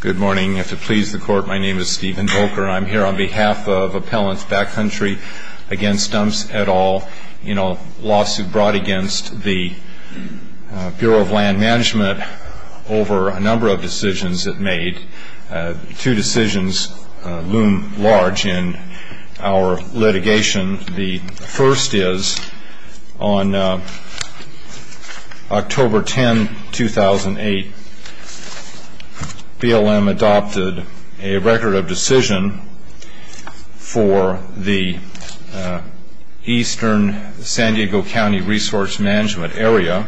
Good morning. If it pleases the Court, my name is Stephen Volker. I'm here on behalf of Appellants Backcountry Against Dumps et al. in a lawsuit brought against the Bureau of Land Management over a number of decisions it made. Two decisions loom large in our litigation. The first is, on October 10, 2008, BLM adopted a record of decision for the eastern San Diego County Resource Management Area.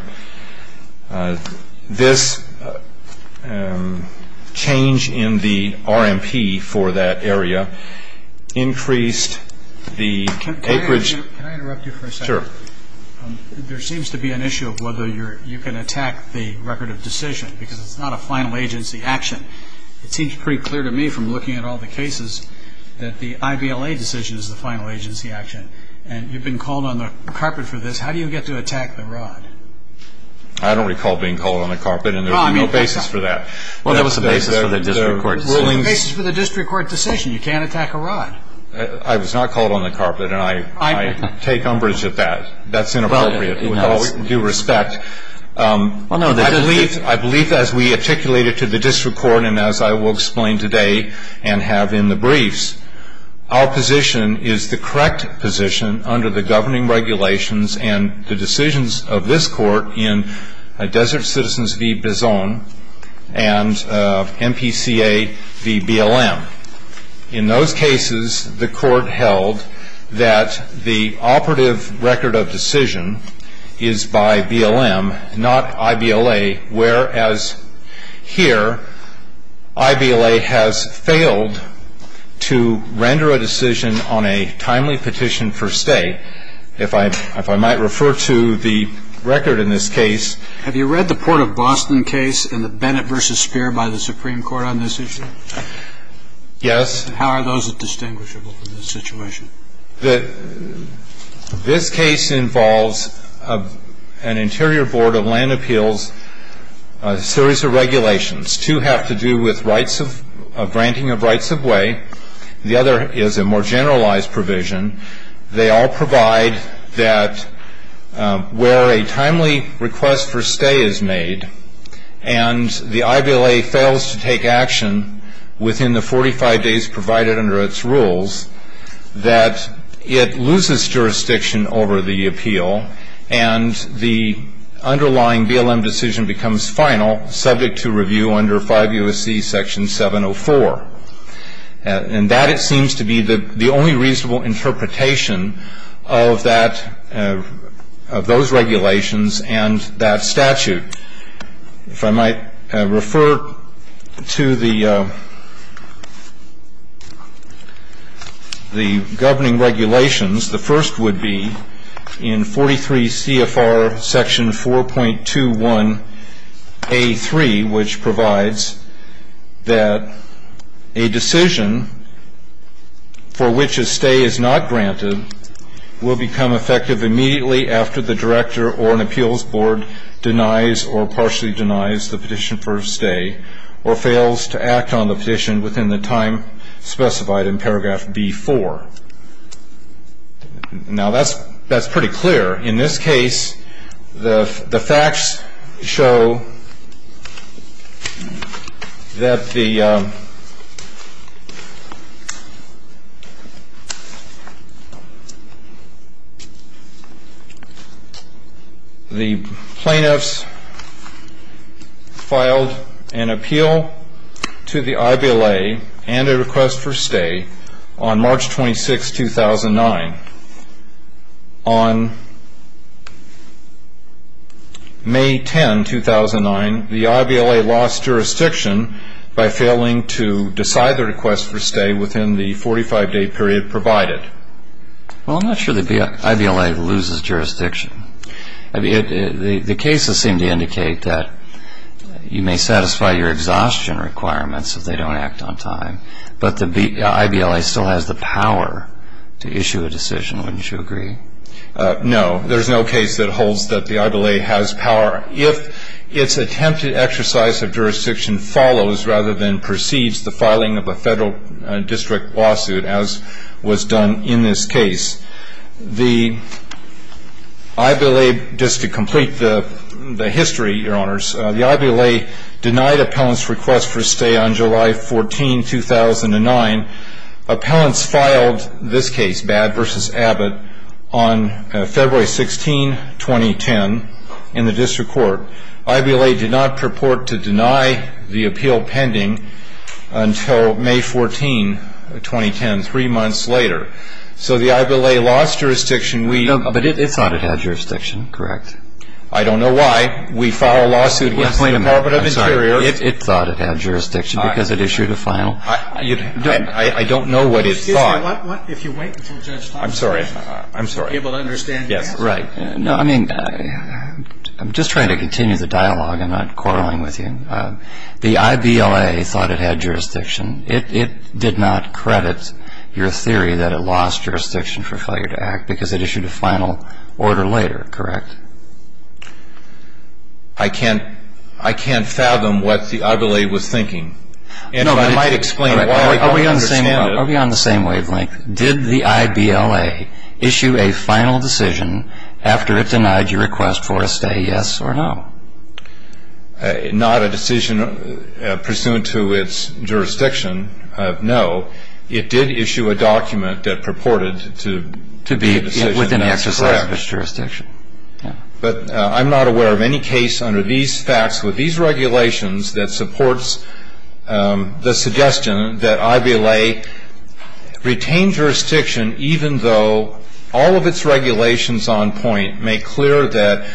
This change in the RMP for that area increased the acreage Can I interrupt you for a second? Sure. There seems to be an issue of whether you can attack the record of decision because it's not a final agency action. It seems pretty clear to me from looking at all the cases that the IBLA decision is the final agency action. And you've been called on the carpet for this. How do you get to attack the rod? I don't recall being called on the carpet, and there's no basis for that. Well, that was the basis for the district court decision. There's no basis for the district court decision. You can't attack a rod. I was not called on the carpet, and I take umbrage at that. That's inappropriate. With all due respect, I believe as we articulated to the district court, and as I will explain today and have in the briefs, our position is the correct position under the governing regulations and the decisions of this court in Desert Citizens v. Bizon and MPCA v. BLM. In those cases, the court held that the operative record of decision is by BLM, not IBLA, whereas here, IBLA has failed to render a decision on a timely petition for stay. If I might refer to the record in this case. Have you read the Port of Boston case and the Bennett v. Speer by the Supreme Court on this issue? Yes. How are those distinguishable from this situation? This case involves an interior board of land appeals, a series of regulations. Two have to do with granting of rights of way. The other is a more generalized provision. They all provide that where a timely request for stay is made and the IBLA fails to take its rules, that it loses jurisdiction over the appeal and the underlying BLM decision becomes final, subject to review under 5 U.S.C. Section 704. And that, it seems to be the only reasonable interpretation of that, of those regulations and that statute. If I might refer to the governing regulations, the first would be in 43 C.F.R. Section 4.21 A.3, which provides that a decision for which a stay is not granted will become effective immediately after the director or an appeals board denies or partially denies the petition for a stay or fails to act on the petition within the time specified in paragraph B-4. Now, that's pretty clear. In this case, the facts show that the plaintiffs filed an appeal to the IBLA and a request for stay on March 26, 2009. On May 10, 2009, the IBLA lost jurisdiction by failing to decide their request for stay within the 45-day period provided. Well, I'm not sure the IBLA loses jurisdiction. The cases seem to indicate that you may satisfy your exhaustion requirements if they don't act on time. But the IBLA still has the power to issue a decision. Wouldn't you agree? No. There's no case that holds that the IBLA has power. If its attempted exercise of jurisdiction follows rather than precedes the filing of a Federal district lawsuit, as was done in this case, the IBLA, just to complete the history, Your Honors, the IBLA denied appellants' request for stay on July 14, 2009. Appellants filed this case, Bad v. Abbott, on February 16, 2010, in the district court. IBLA did not purport to deny the appeal pending until May 14, 2010, three months later. So the IBLA lost jurisdiction. No, but it thought it had jurisdiction, correct. I don't know why. We file a lawsuit against the Department of Interior. I'm sorry. It thought it had jurisdiction because it issued a final. I don't know what it thought. Excuse me. What if you wait until Judge Thompson is able to understand the answer? I'm sorry. Yes. Right. No, I mean, I'm just trying to continue the dialogue. I'm not quarreling with you. The IBLA thought it had jurisdiction. It did not credit your theory that it lost jurisdiction for failure to act because it issued a final order later, correct? I can't fathom what the IBLA was thinking. No, but I might explain it. Are we on the same wavelength? Did the IBLA issue a final decision after it denied your request for a stay, yes or no? Not a decision pursuant to its jurisdiction, no. It did issue a document that purported to be within the exercise of its jurisdiction. But I'm not aware of any case under these facts with these regulations that supports the suggestion that IBLA retain jurisdiction even though all of its regulations on point make clear that,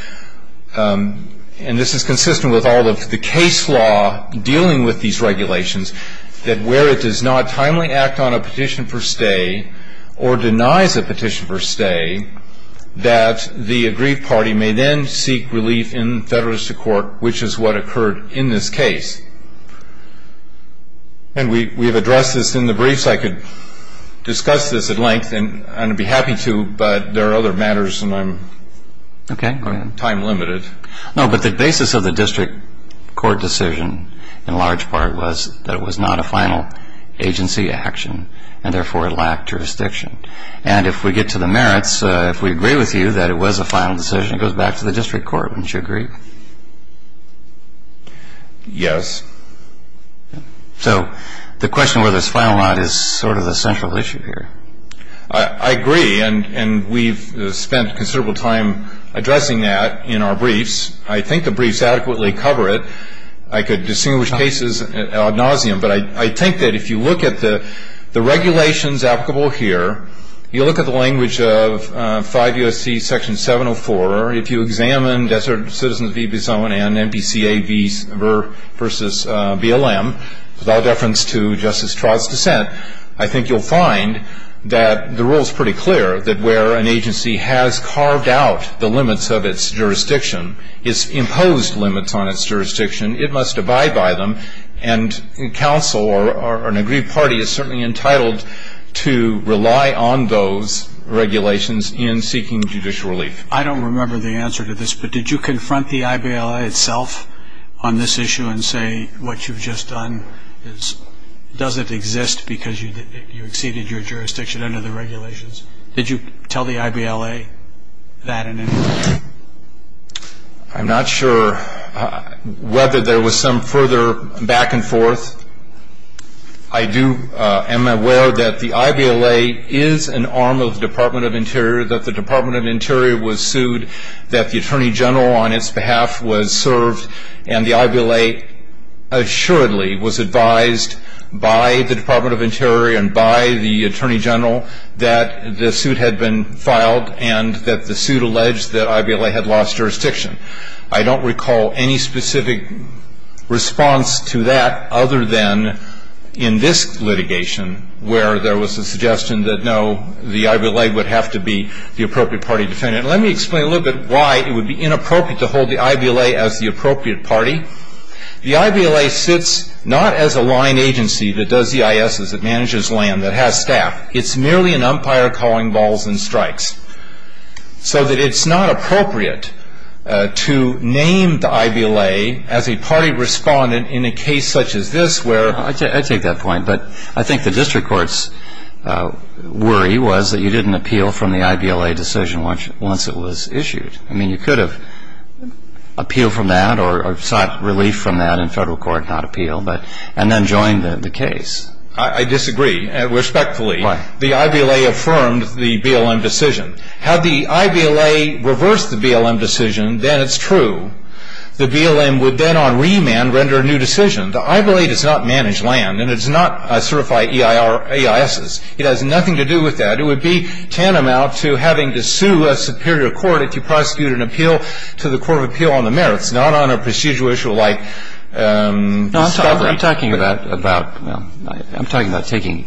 and this is consistent with all of the case law dealing with these regulations, that where it does not timely act on a petition for stay or denies a petition for stay, that the aggrieved party may then seek relief in federalistic court, which is what occurred in this case. And we've addressed this in the briefs. I could discuss this at length, and I'd be happy to, but there are other matters, and I'm time limited. No, but the basis of the district court decision in large part was that it was not a final agency action, and therefore it lacked jurisdiction. And if we get to the merits, if we agree with you that it was a final decision, it goes back to the district court, wouldn't you agree? Yes. So the question whether it's final or not is sort of the central issue here. I agree, and we've spent considerable time addressing that in our briefs. I think the briefs adequately cover it. I could distinguish cases ad nauseum, but I think that if you look at the regulations applicable here, you look at the language of 5 U.S.C. Section 704, if you examine Desert Citizens v. Bison and NBCA v. BLM, without deference to Justice Trott's dissent, I think you'll find that the rule is pretty clear that where an agency has carved out the limits of its jurisdiction, its imposed limits on its jurisdiction, it must abide by them. And counsel or an aggrieved party is certainly entitled to rely on those regulations in seeking judicial relief. I don't remember the answer to this, but did you confront the IBLA itself on this issue and say what you've just done doesn't exist because you exceeded your jurisdiction under the regulations? Did you tell the IBLA that in any way? I'm not sure whether there was some further back and forth. I am aware that the IBLA is an arm of the Department of Interior, that the Department of Interior was sued, that the Attorney General on its behalf was served, and the IBLA assuredly was advised by the Department of Interior and by the Attorney General that the suit had been filed and that the suit alleged that IBLA had lost jurisdiction. I don't recall any specific response to that other than in this litigation where there was a suggestion that, no, the IBLA would have to be the appropriate party defendant. Let me explain a little bit why it would be inappropriate to hold the IBLA as the appropriate party. The IBLA sits not as a line agency that does the ISs, that manages land, that has staff. It's merely an umpire calling balls and strikes. So that it's not appropriate to name the IBLA as a party respondent in a case such as this where ---- The District Court's worry was that you didn't appeal from the IBLA decision once it was issued. I mean, you could have appealed from that or sought relief from that in Federal court, not appeal, and then joined the case. I disagree. Respectfully, the IBLA affirmed the BLM decision. Had the IBLA reversed the BLM decision, then it's true. The BLM would then on remand render a new decision. The IBLA does not manage land, and it does not certify EISs. It has nothing to do with that. It would be tantamount to having to sue a superior court if you prosecuted an appeal to the Court of Appeal on the merits, not on a procedural issue like discovery. I'm talking about taking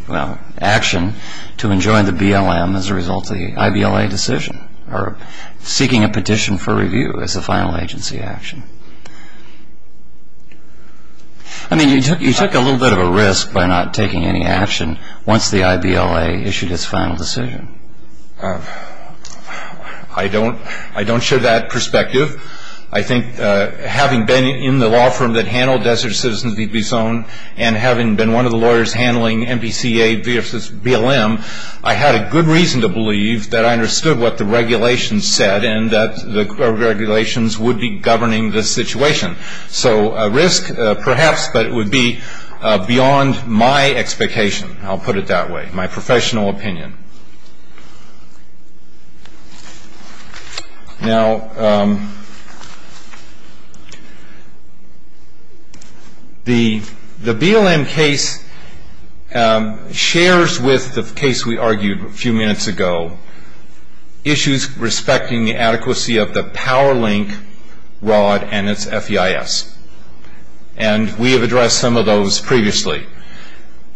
action to enjoin the BLM as a result of the IBLA decision or seeking a petition for review as a final agency action. I mean, you took a little bit of a risk by not taking any action once the IBLA issued its final decision. I don't share that perspective. I think having been in the law firm that handled Desert Citizens v. Bison and having been one of the lawyers handling NBCA v. BLM, I had a good reason to believe that I understood what the regulations said and that the regulations would be governing the situation. So a risk, perhaps, but it would be beyond my expectation. I'll put it that way, my professional opinion. Now, the BLM case shares with the case we argued a few minutes ago, issues respecting the adequacy of the power link rod and its FEIS, and we have addressed some of those previously.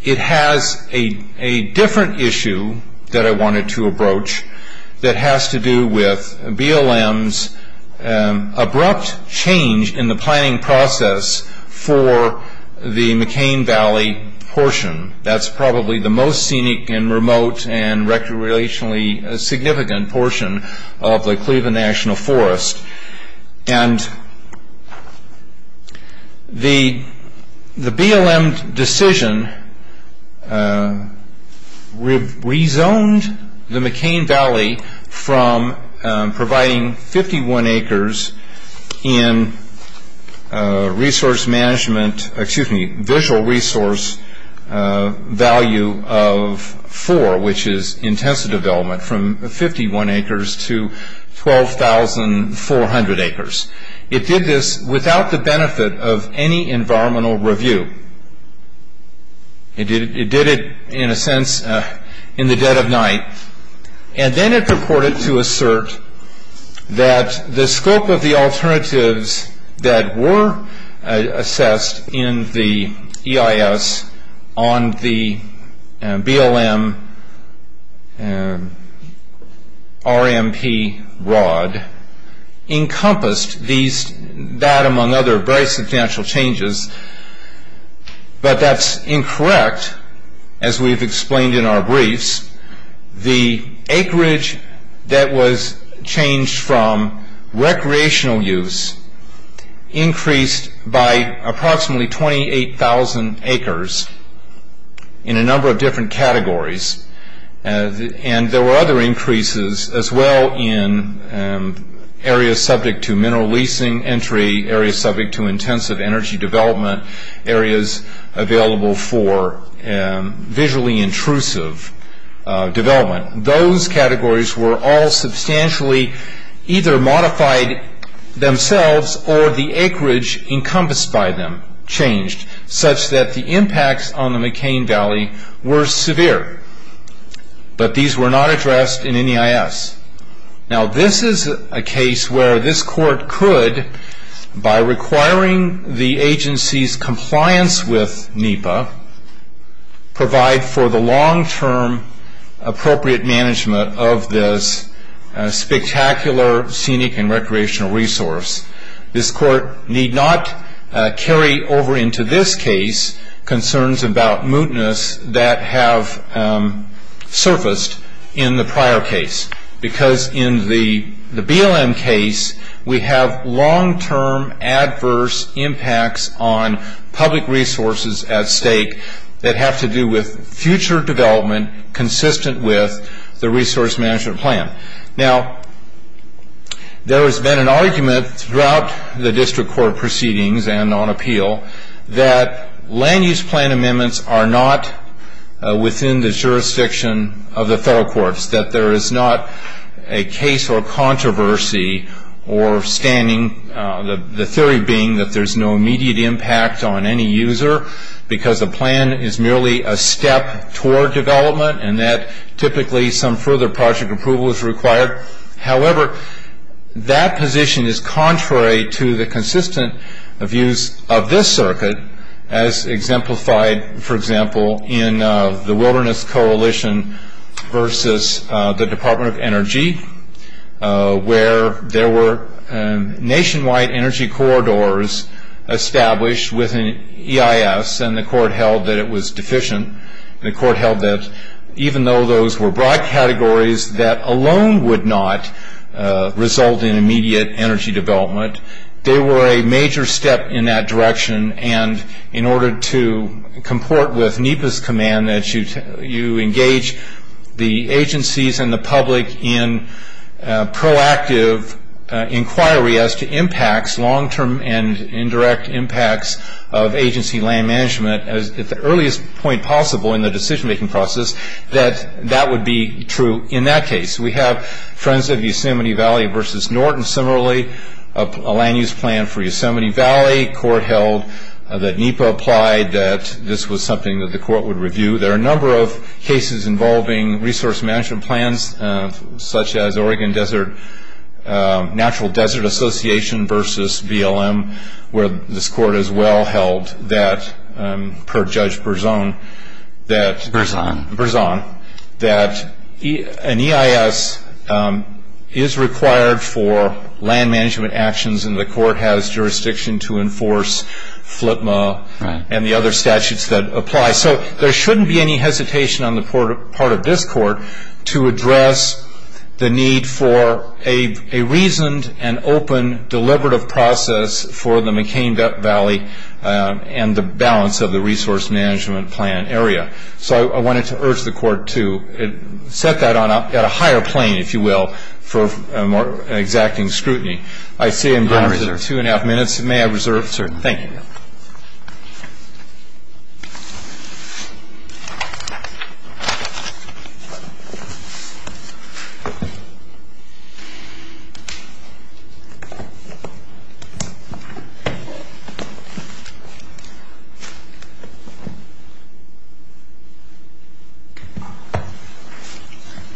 It has a different issue that I wanted to approach that has to do with BLM's abrupt change in the planning process for the McCain Valley portion. That's probably the most scenic and remote and recreationally significant portion of the Cleveland National Forest. And the BLM decision rezoned the McCain Valley from providing 51 acres in visual resource value of 4, which is intensive development, from 51 acres to 12,400 acres. It did this without the benefit of any environmental review. It did it, in a sense, in the dead of night, and then it purported to assert that the scope of the alternatives that were assessed in the EIS on the BLM RMP rod encompassed these, that, among other very substantial changes. But that's incorrect, as we've explained in our briefs. The acreage that was changed from recreational use increased by approximately 28,000 acres in a number of different categories, and there were other increases as well in areas subject to mineral leasing entry, areas subject to intensive energy development, areas available for visually intrusive development. Those categories were all substantially either modified themselves or the acreage encompassed by them changed, such that the impacts on the McCain Valley were severe. But these were not addressed in any EIS. Now, this is a case where this court could, by requiring the agency's compliance with NEPA, provide for the long-term appropriate management of this spectacular scenic and recreational resource. This court need not carry over into this case concerns about mootness that have surfaced in the prior case, because in the BLM case, we have long-term adverse impacts on public resources at stake that have to do with future development consistent with the resource management plan. Now, there has been an argument throughout the district court proceedings and on appeal that land use plan amendments are not within the jurisdiction of the federal courts, that there is not a case or controversy or standing, the theory being that there's no immediate impact on any user because the plan is merely a step toward development and that typically some further project approval is required. However, that position is contrary to the consistent views of this circuit as exemplified, for example, in the Wilderness Coalition versus the Department of Energy, where there were nationwide energy corridors established within EIS and the court held that it was deficient. The court held that even though those were broad categories, that alone would not result in immediate energy development. They were a major step in that direction and in order to comport with NEPA's command that you engage the agencies and the public in proactive inquiry as to impacts, long-term and indirect impacts of agency land management at the earliest point possible in the decision-making process, that that would be true in that case. We have Friends of Yosemite Valley versus Norton. Similarly, a land use plan for Yosemite Valley, the court held that NEPA applied, that this was something that the court would review. There are a number of cases involving resource management plans such as Oregon Natural Desert Association versus BLM, where this court as well held that, per Judge Berzon, that an EIS is required for land management actions and the court has jurisdiction to enforce FLTMA and the other statutes that apply. So there shouldn't be any hesitation on the part of this court to address the need for a reasoned and open deliberative process for the McCain Valley and the balance of the resource management plan area. So I wanted to urge the court to set that up at a higher plane, if you will, for exacting scrutiny. I see I'm down to two and a half minutes. May I reserve? Yes, sir. Thank you.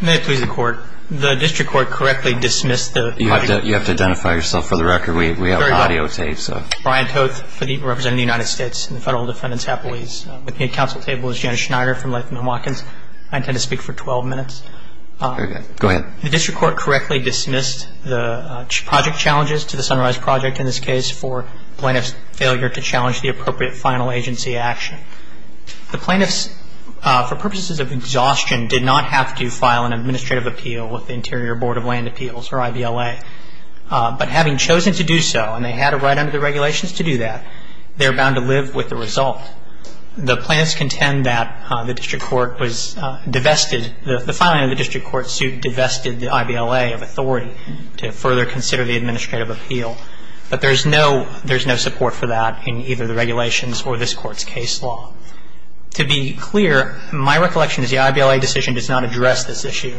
May it please the Court. The District Court correctly dismissed the project. You have to identify yourself for the record. We have audiotapes. Brian Toth, representing the United States and the Federal Defendant's Appellees. With me at council table is Janet Schneider from Leithman & Watkins. I intend to speak for 12 minutes. Very good. Go ahead. The District Court correctly dismissed the project challenges to the Sunrise Project in this case for plaintiff's failure to challenge the appropriate final agency action. The plaintiffs, for purposes of exhaustion, did not have to file an administrative appeal with the Interior Board of Land Appeals, or IVLA. But having chosen to do so, and they had a right under the regulations to do that, they're bound to live with the result. The plaintiffs contend that the District Court was divested, the filing of the District Court suit divested the IVLA of authority to further consider the administrative appeal. But there's no support for that in either the regulations or this Court's case law. To be clear, my recollection is the IVLA decision does not address this issue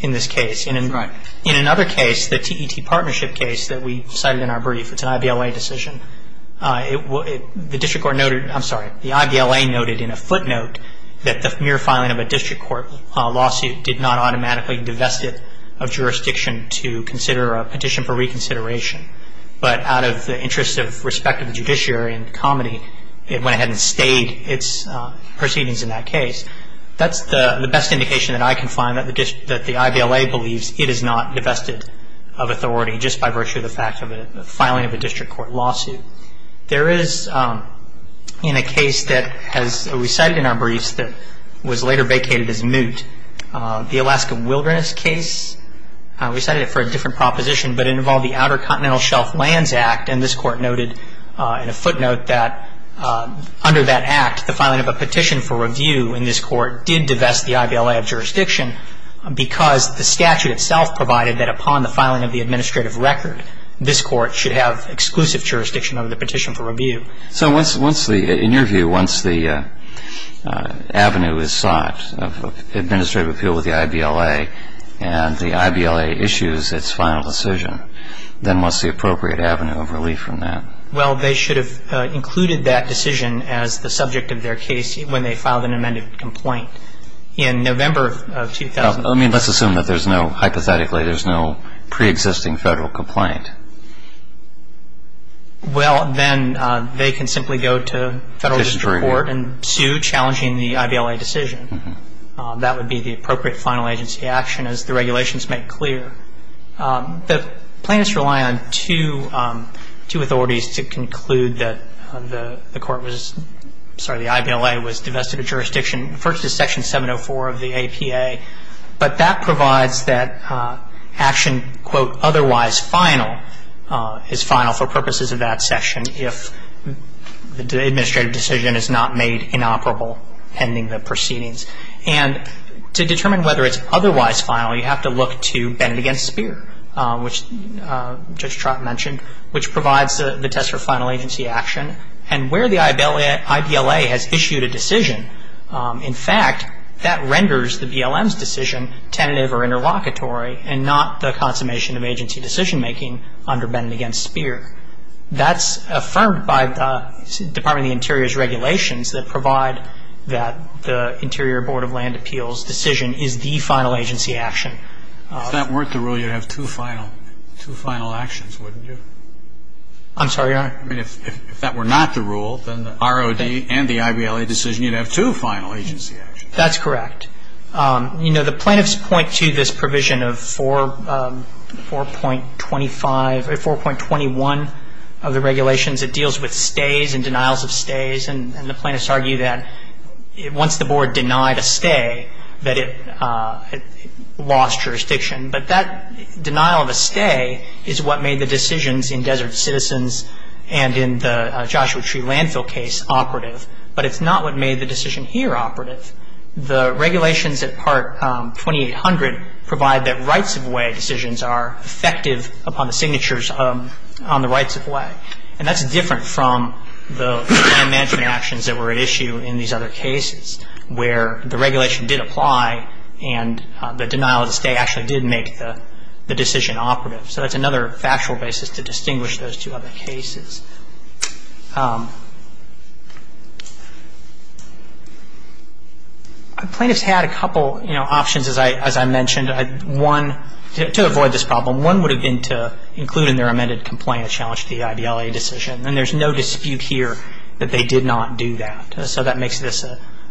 in this case. Right. In another case, the TET partnership case that we cited in our brief, it's an IVLA decision. The District Court noted, I'm sorry, the IVLA noted in a footnote that the mere filing of a District Court lawsuit did not automatically divest it of jurisdiction to consider a petition for reconsideration. But out of the interest of respect of the judiciary and comedy, it went ahead and stayed its proceedings in that case. That's the best indication that I can find that the IVLA believes it is not divested of authority just by virtue of the fact of a filing of a District Court lawsuit. There is, in a case that we cited in our briefs that was later vacated as moot, the Alaska Wilderness case, we cited it for a different proposition, but it involved the Outer Continental Shelf Lands Act, and this Court noted in a footnote that under that act, the filing of a petition for review in this Court did divest the IVLA of jurisdiction because the statute itself provided that upon the filing of the administrative record, this Court should have exclusive jurisdiction over the petition for review. So once the, in your view, once the avenue is sought of administrative appeal with the IVLA and the IVLA issues its final decision, then what's the appropriate avenue of relief from that? Well, they should have included that decision as the subject of their case when they filed an amended complaint in November of 2000. Let's assume that there's no, hypothetically, there's no preexisting Federal complaint. Well, then they can simply go to Federal District Court and sue challenging the IVLA decision. That would be the appropriate final agency action, as the regulations make clear. The plaintiffs rely on two authorities to conclude that the court was, sorry, the IVLA was divested of jurisdiction. First is Section 704 of the APA, but that provides that action, quote, otherwise final is final for purposes of that section if the administrative decision is not made inoperable pending the proceedings. And to determine whether it's otherwise final, you have to look to Bennett v. Speer, which Judge Trott mentioned, which provides the test for final agency action and where the IVLA has issued a decision. In fact, that renders the BLM's decision tentative or interlocutory and not the consummation of agency decision-making under Bennett v. Speer. That's affirmed by the Department of the Interior's regulations that provide that the Interior Board of Land Appeals decision is the final agency action. If that weren't the rule, you'd have two final actions, wouldn't you? I'm sorry, Your Honor? I mean, if that were not the rule, then the ROD and the IVLA decision, you'd have two final agency actions. That's correct. You know, the plaintiffs point to this provision of 4.25 or 4.21 of the regulations. It deals with stays and denials of stays. And the plaintiffs argue that once the board denied a stay, that it lost jurisdiction. But that denial of a stay is what made the decisions in Desert Citizens and in the Joshua Tree Landfill case operative. But it's not what made the decision here operative. The regulations at Part 2800 provide that rights-of-way decisions are effective upon the signatures on the rights-of-way. And that's different from the land management actions that were at issue in these other cases where the regulation did apply and the denial of a stay actually did make the decision operative. So that's another factual basis to distinguish those two other cases. Plaintiffs had a couple options, as I mentioned. One, to avoid this problem, one would have been to include in their amended complaint the challenge to the IBLA decision. And there's no dispute here that they did not do that. So that makes this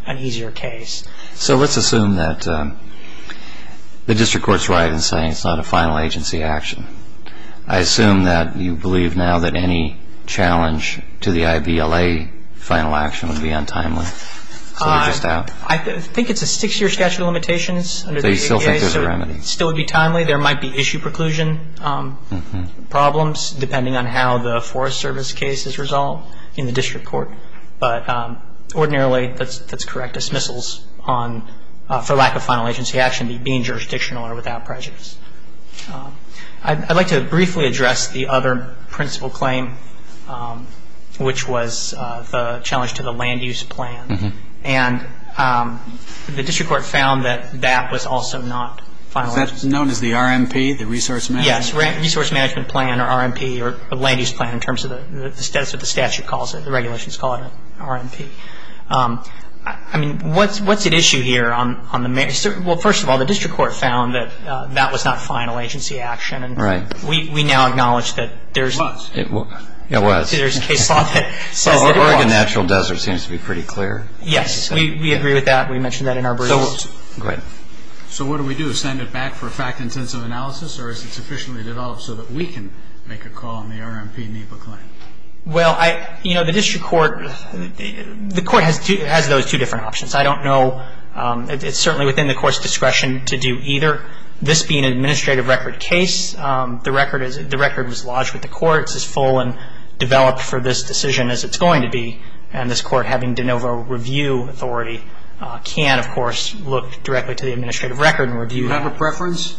an easier case. So let's assume that the district court's right in saying it's not a final agency action. I assume that you believe now that any challenge to the IBLA final action would be untimely. I think it's a six-year statute of limitations. They still think there's a remedy. It still would be timely. There might be issue preclusion problems depending on how the Forest Service case is resolved in the district court. But ordinarily, that's correct dismissals for lack of final agency action being jurisdictional or without prejudice. I'd like to briefly address the other principal claim, which was the challenge to the land use plan. And the district court found that that was also not final agency action. Is that known as the RMP, the resource management plan? Yes, resource management plan, or RMP, or land use plan in terms of the status of the statute calls it. The regulations call it an RMP. I mean, what's at issue here? Well, first of all, the district court found that that was not final agency action. Right. We now acknowledge that there's a case law that says that it was. Yes. We agree with that. We mentioned that in our brief. Go ahead. So what do we do? Send it back for a fact-intensive analysis? Or is it sufficiently developed so that we can make a call on the RMP NEPA claim? Well, you know, the district court, the court has those two different options. I don't know. It's certainly within the court's discretion to do either. This being an administrative record case, the record was lodged with the court. It's as full and developed for this decision as it's going to be. And this court, having de novo review authority, can, of course, look directly to the administrative record and review that. Do you have a preference?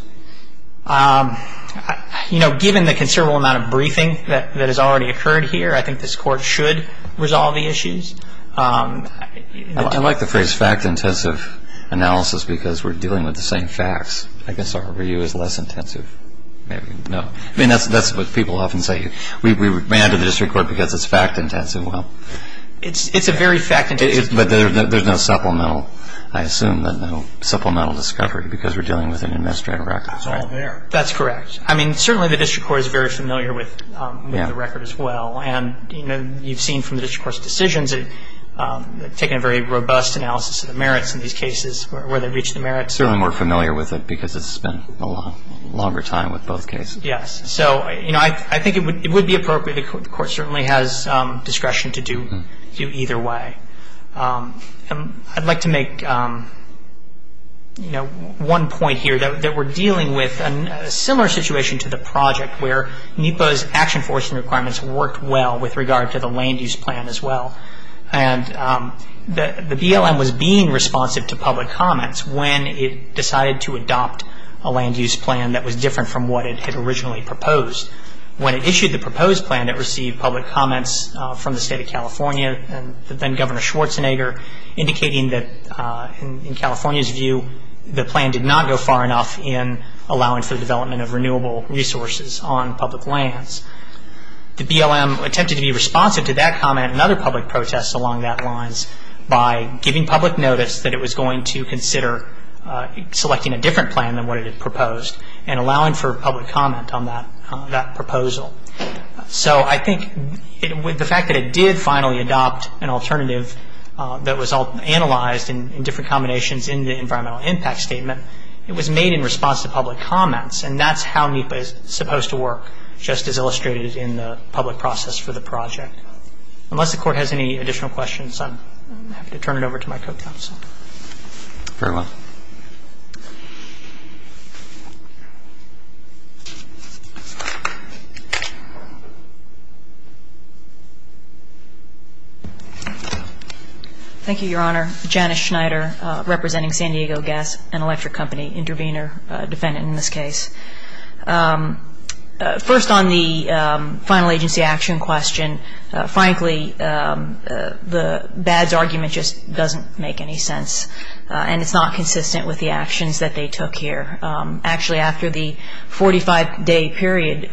You know, given the considerable amount of briefing that has already occurred here, I think this court should resolve the issues. I like the phrase fact-intensive analysis because we're dealing with the same facts. I guess our review is less intensive. Maybe. No. I mean, that's what people often say. We ran to the district court because it's fact-intensive. Well. It's a very fact-intensive case. But there's no supplemental, I assume, no supplemental discovery because we're dealing with an administrative record. It's all there. That's correct. I mean, certainly the district court is very familiar with the record as well. And, you know, you've seen from the district court's decisions, taken a very robust analysis of the merits in these cases, where they reach the merits. Certainly more familiar with it because it's been a longer time with both cases. Yes. So, you know, I think it would be appropriate. The court certainly has discretion to do either way. I'd like to make, you know, one point here that we're dealing with a similar situation to the project where NEPA's action forcing requirements worked well with regard to the land use plan as well. And the BLM was being responsive to public comments when it decided to adopt a land use plan that was different from what it had originally proposed. When it issued the proposed plan, it received public comments from the State of California and then Governor Schwarzenegger indicating that, in California's view, the plan did not go far enough in allowing for the development of renewable resources on public lands. The BLM attempted to be responsive to that comment and other public protests along that lines by giving public notice that it was going to consider selecting a different plan than what it had proposed and allowing for public comment on that proposal. So I think the fact that it did finally adopt an alternative that was analyzed in different combinations in the environmental impact statement, it was made in response to public comments. And that's how NEPA is supposed to work, just as illustrated in the public process for the project. Unless the Court has any additional questions, I'm happy to turn it over to my co-counsel. Very well. Thank you, Your Honor. Janice Schneider, representing San Diego Gas and Electric Company, intervener, defendant in this case. First, on the final agency action question, frankly, BAD's argument just doesn't make any sense. And it's not consistent with the actions that they took here. Actually, after the 45-day period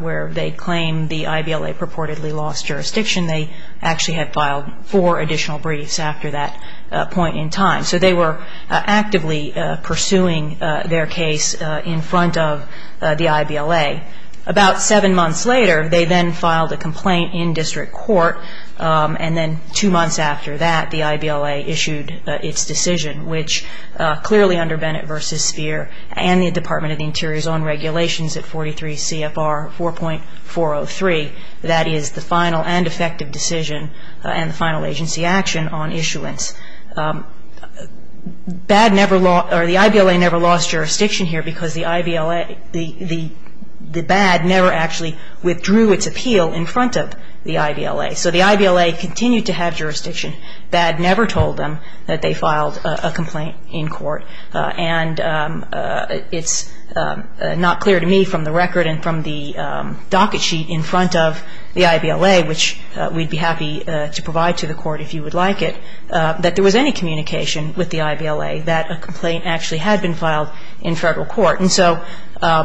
where they claimed the IBLA purportedly lost jurisdiction, they actually had filed four additional briefs after that point in time. So they were actively pursuing their case in front of the IBLA. About seven months later, they then filed a complaint in district court. And then two months after that, the IBLA issued its decision, which clearly under Bennett v. Sphere and the Department of the Interior's own regulations at 43 CFR 4.403, that is the final and effective decision and the final agency action on issuance. The IBLA never lost jurisdiction here because the BAD never actually withdrew its appeal in front of the IBLA. So the IBLA continued to have jurisdiction. BAD never told them that they filed a complaint in court. And it's not clear to me from the record and from the docket sheet in front of the IBLA, which we'd be happy to provide to the court if you would like it, that there was any communication with the IBLA that a complaint actually had been filed in federal court. And so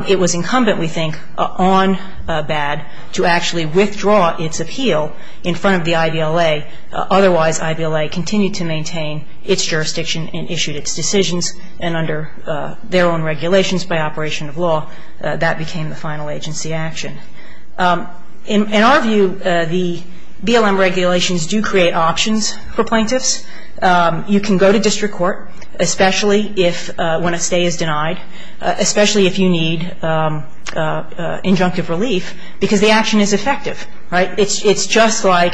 it was incumbent, we think, on BAD to actually withdraw its appeal in front of the IBLA. Otherwise, IBLA continued to maintain its jurisdiction and issued its decisions. And under their own regulations by operation of law, that became the final agency action. In our view, the BLM regulations do create options for plaintiffs. You can go to district court, especially if when a stay is denied, especially if you need injunctive relief, because the action is effective. Right? It's just like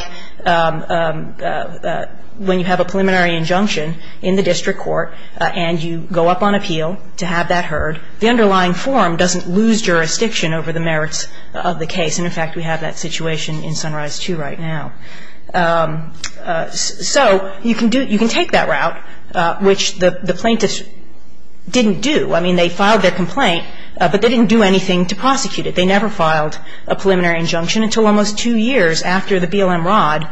when you have a preliminary injunction in the district court and you go up on appeal to have that heard. The underlying form doesn't lose jurisdiction over the merits of the case. And, in fact, we have that situation in Sunrise II right now. So you can take that route, which the plaintiffs didn't do. I mean, they filed their complaint, but they didn't do anything to prosecute it. They never filed a preliminary injunction until almost two years after the BLM rod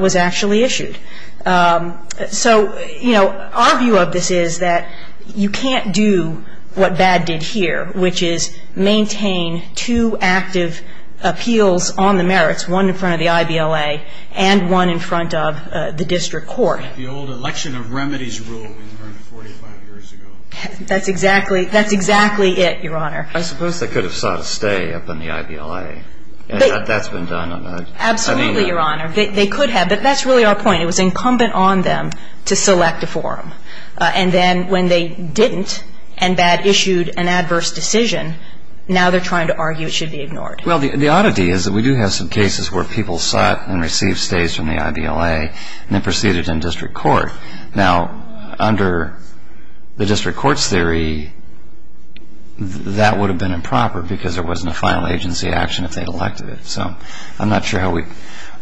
was actually issued. So, you know, our view of this is that you can't do what BAD did here, which is maintain two active appeals on the merits, one in front of the IBLA and one in front of the district court. The old election of remedies rule that we learned 45 years ago. That's exactly it, Your Honor. I suppose they could have sought a stay up in the IBLA. That's been done. Absolutely, Your Honor. They could have. But that's really our point. It was incumbent on them to select a forum. And then when they didn't and BAD issued an adverse decision, now they're trying to argue it should be ignored. Well, the oddity is that we do have some cases where people sought and received stays from the IBLA and then proceeded in district court. Now, under the district court's theory, that would have been improper because there wasn't a final agency action if they elected it. So I'm not sure how we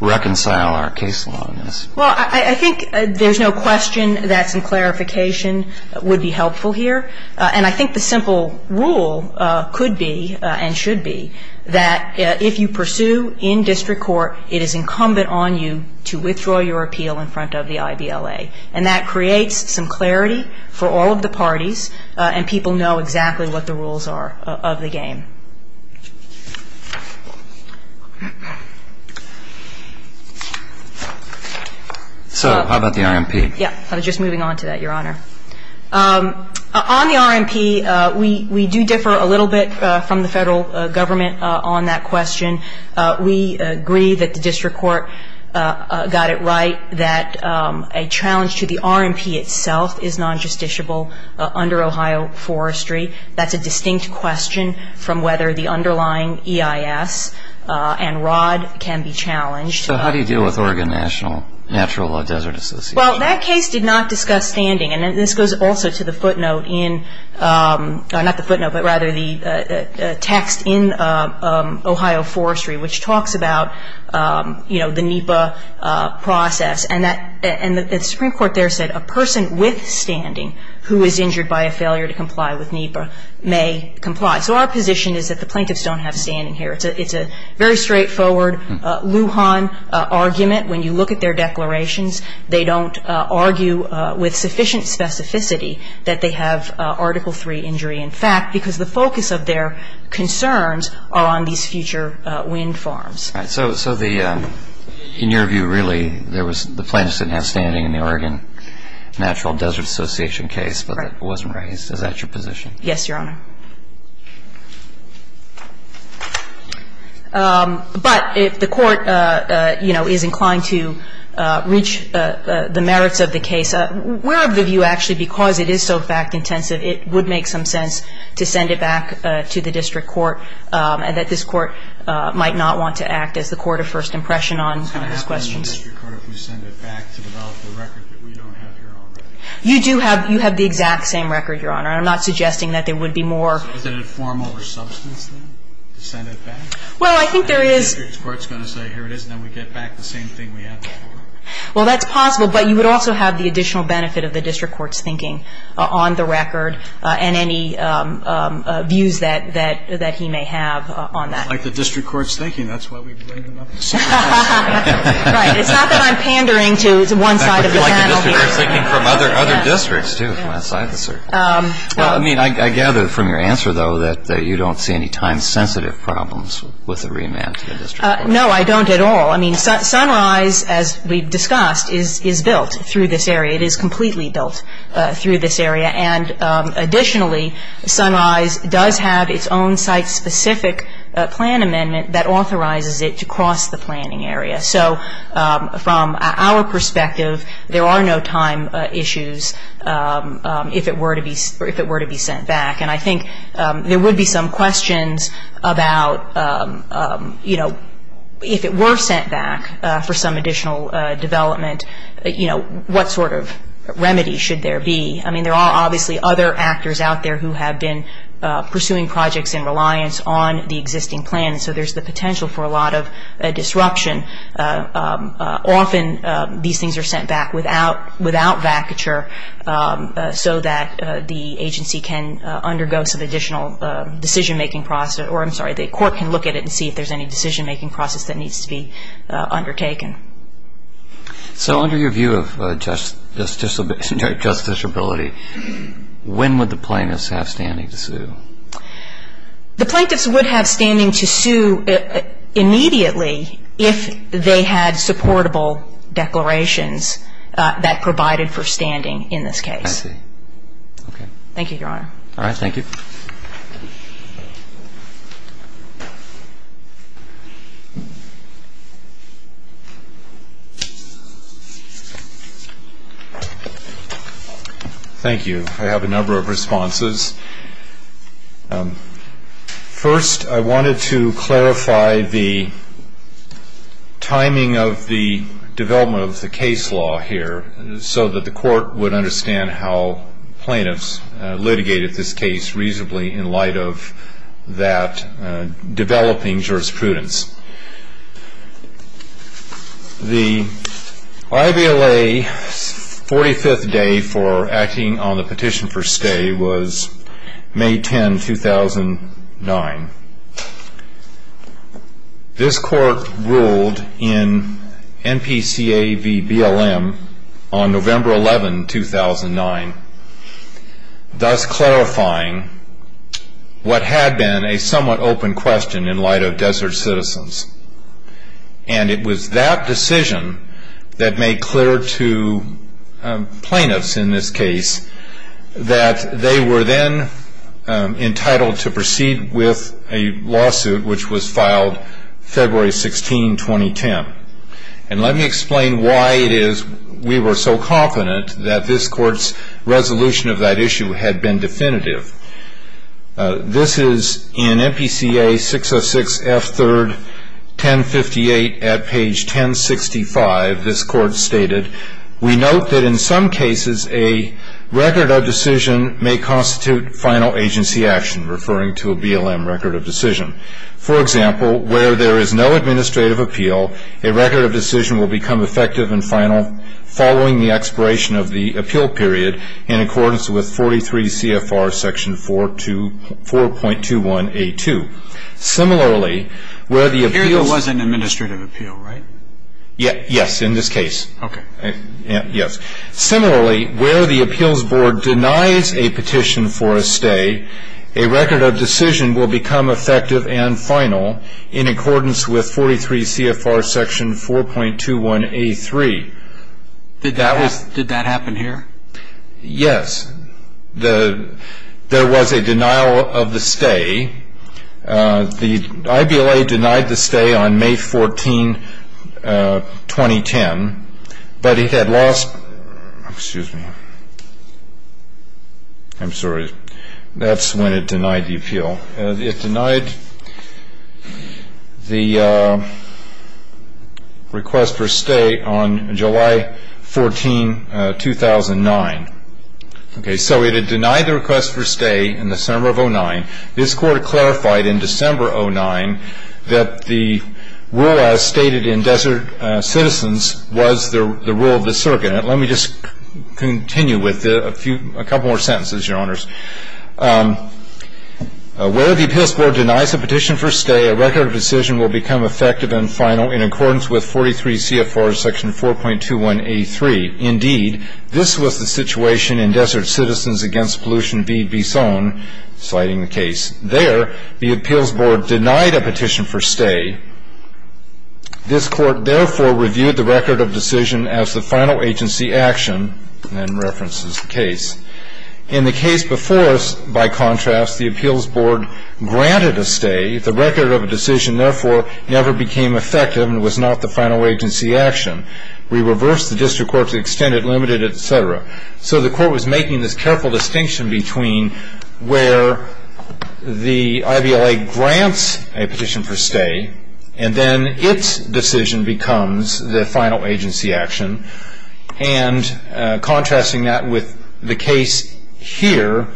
reconcile our case law on this. Well, I think there's no question that some clarification would be helpful here. And I think the simple rule could be and should be that if you pursue in district court, it is incumbent on you to withdraw your appeal in front of the IBLA. And that creates some clarity for all of the parties. And people know exactly what the rules are of the game. So how about the RMP? Yeah. I was just moving on to that, Your Honor. On the RMP, we do differ a little bit from the federal government on that question. We agree that the district court got it right, that a challenge to the RMP itself is non-justiciable under Ohio Forestry. That's a distinct question from whether the underlying EIS and ROD can be challenged. So how do you deal with Oregon National Natural Desert Association? Well, that case did not discuss standing. And this goes also to the footnote in the text in Ohio Forestry, which talks about the NEPA process. And the Supreme Court there said a person with standing who is injured by a failure to comply with NEPA may comply. So our position is that the plaintiffs don't have standing here. It's a very straightforward Lujan argument. When you look at their declarations, they don't argue with sufficient specificity that they have Article III injury in fact, because the focus of their concerns are on these future wind farms. All right. So the ñ in your view, really, there was ñ the plaintiffs didn't have standing in the Oregon Natural Desert Association case, but it wasn't raised. Is that your position? Yes, Your Honor. But if the Court, you know, is inclined to reach the merits of the case, we're of the view, actually, because it is so fact-intensive, it would make some sense to send it back to the district court, and that this court might not want to act as the court of first impression on these questions. It's going to happen in the district court if you send it back to develop the record that we don't have here already. You do have ñ you have the exact same record, Your Honor. I'm not suggesting that there would be more ñ So is it a formal or substance thing to send it back? Well, I think there is ñ And the district court's going to say, here it is, and then we get back the same thing we had before. Well, that's possible, but you would also have the additional benefit of the district court's thinking on the record and any views that he may have on that. It's like the district court's thinking. That's why we bring him up. It's not that I'm pandering to one side of the panel here. Well, I mean, I gather from your answer, though, that you don't see any time-sensitive problems with the remand to the district court. No, I don't at all. I mean, Sunrise, as we've discussed, is built through this area. It is completely built through this area. And additionally, Sunrise does have its own site-specific plan amendment that authorizes it to cross the planning area. So from our perspective, there are no time issues if it were to be sent back. And I think there would be some questions about, you know, if it were sent back for some additional development, you know, what sort of remedy should there be? I mean, there are obviously other actors out there who have been pursuing projects in reliance on the existing plan. So there's the potential for a lot of disruption. Often these things are sent back without vacature so that the agency can undergo some additional decision-making process. Or I'm sorry, the court can look at it and see if there's any decision-making process that needs to be undertaken. So under your view of justiciability, when would the plaintiffs have standing to sue? The plaintiffs would have standing to sue immediately if they had supportable declarations that provided for standing in this case. I see. Okay. Thank you, Your Honor. All right. Thank you. Thank you. I have a number of responses. First, I wanted to clarify the timing of the development of the case law here so that the court would understand how plaintiffs litigated this case reasonably in light of that developing jurisprudence. The IVLA's 45th day for acting on the petition for stay was May 10, 2009. This court ruled in NPCA v. BLM on November 11, 2009, thus clarifying what had been a somewhat open question in light of desert citizens. And it was that decision that made clear to plaintiffs in this case that they were then entitled to proceed with a lawsuit which was filed February 16, 2010. And let me explain why it is we were so confident that this court's resolution of that issue had been definitive. This is in NPCA 606F3, 1058, at page 1065, this court stated, we note that in some cases a record of decision may constitute final agency action, referring to a BLM record of decision. For example, where there is no administrative appeal, a record of decision will become effective and final following the expiration of in accordance with 43 CFR section 4.21A2. Similarly, where the appeals board denies a petition for a stay, a record of decision will become effective and final in accordance with 43 CFR section 4.21A3. Did that happen here? Yes. There was a denial of the stay. The IBLA denied the stay on May 14, 2010, but it had lost – excuse me. I'm sorry, that's when it denied the appeal. No, it denied the request for stay on July 14, 2009. Okay, so it had denied the request for stay in December of 2009. This court clarified in December 2009 that the rule as stated in Desert Citizens was the rule of the circuit. Let me just continue with a couple more sentences, Your Honors. Where the appeals board denies a petition for stay, a record of decision will become effective and final in accordance with 43 CFR section 4.21A3. Indeed, this was the situation in Desert Citizens against Pollution v. Bisson, citing the case. There, the appeals board denied a petition for stay. This court, therefore, reviewed the record of decision as the final agency action and references the case. In the case before us, by contrast, the appeals board granted a stay. The record of a decision, therefore, never became effective and was not the final agency action. We reversed the district court to extend it, limited it, et cetera. So the court was making this careful distinction between where the IVLA grants a petition for stay and then its decision becomes the final agency action, and contrasting that with the case here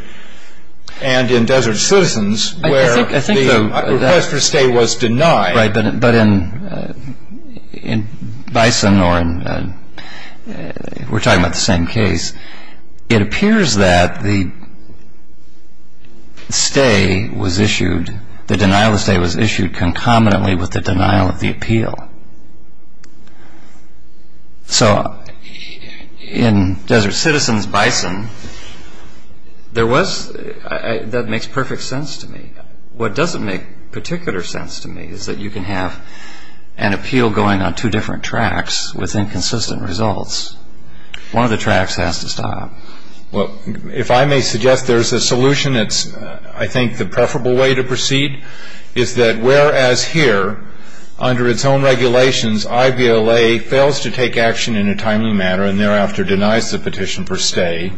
and in Desert Citizens where the request for stay was denied. Right, but in Bisson, or we're talking about the same case, it appears that the stay was issued, the denial of stay was issued concomitantly with the denial of the appeal. So in Desert Citizens-Bisson, there was, that makes perfect sense to me. What doesn't make particular sense to me is that you can have an appeal going on two different tracks with inconsistent results. One of the tracks has to stop. Well, if I may suggest there's a solution that's, I think, the preferable way to proceed, is that whereas here, under its own regulations, IVLA fails to take action in a timely manner and thereafter denies the petition for stay,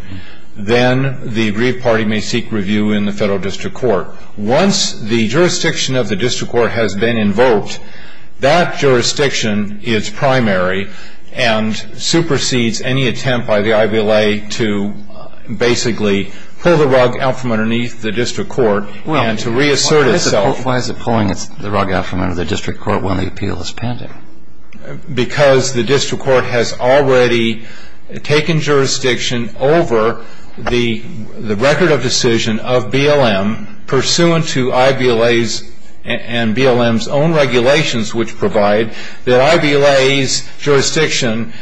then the aggrieved party may seek review in the federal district court. Once the jurisdiction of the district court has been invoked, that jurisdiction is primary and supersedes any attempt by the IVLA to basically pull the rug out from underneath the district court and to reassert itself. Well, why is it pulling the rug out from under the district court when the appeal is pending? Because the district court has already taken jurisdiction over the record of decision of BLM, pursuant to IVLA's and BLM's own regulations which provide that IVLA's jurisdiction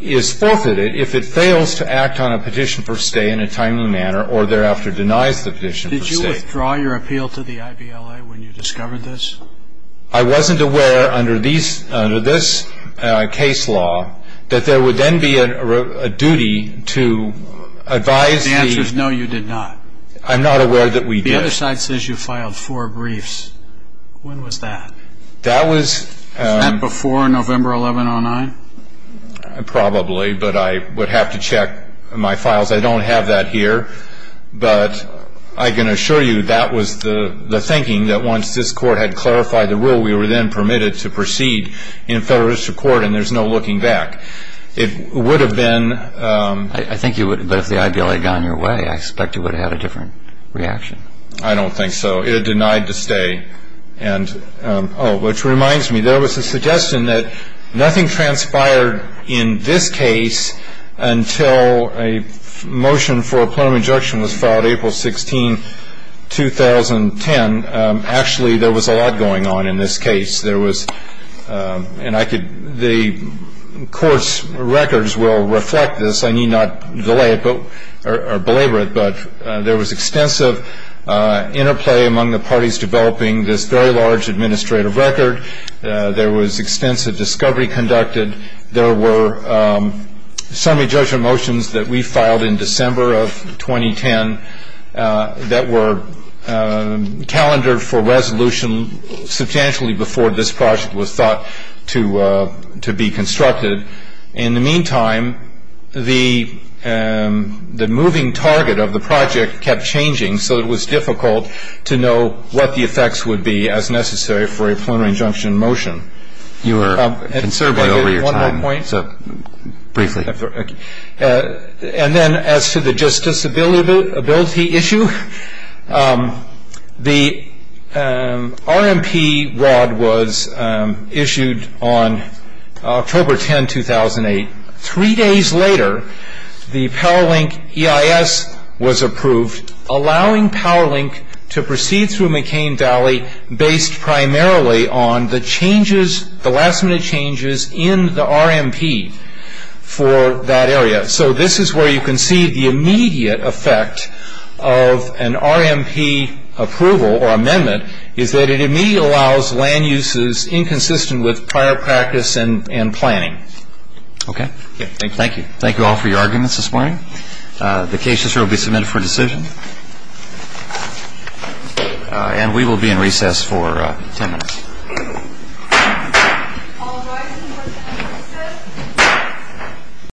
is forfeited if it fails to act on a petition for stay in a timely manner or thereafter denies the petition for stay. Did you withdraw your appeal to the IVLA when you discovered this? I wasn't aware, under this case law, that there would then be a duty to advise the... The answer is no, you did not. I'm not aware that we did. The other side says you filed four briefs. When was that? That was... Was that before November 11, 2009? Probably, but I would have to check my files. I don't have that here. But I can assure you that was the thinking that once this court had clarified the rule, we were then permitted to proceed in federalistic court and there's no looking back. It would have been... I think you would have, but if the IVLA had gone your way, I expect you would have had a different reaction. I don't think so. It denied the stay. And, oh, which reminds me, there was a suggestion that nothing transpired in this case until a motion for a plenum injunction was filed April 16, 2010. Actually, there was a lot going on in this case. There was... And I could... The court's records will reflect this. I need not delay it, or belabor it, but there was extensive interplay among the parties developing this very large administrative record. There was extensive discovery conducted. There were summary judgment motions that we filed in December of 2010 that were calendared for resolution substantially before this project was thought to be constructed. In the meantime, the moving target of the project kept changing, so it was difficult to know what the effects would be as necessary for a plenary injunction motion. You are conserving over your time, so briefly. And then as to the justiciability issue, the RMP rod was issued on October 10, 2008. Three days later, the PowerLink EIS was approved, allowing PowerLink to proceed through McCain Valley based primarily on the changes, the last-minute changes in the RMP for that area. So this is where you can see the immediate effect of an RMP approval or amendment is that it immediately allows land uses inconsistent with prior practice and planning. Okay. Thank you. Thank you all for your arguments this morning. The case will be submitted for decision, and we will be in recess for 10 minutes.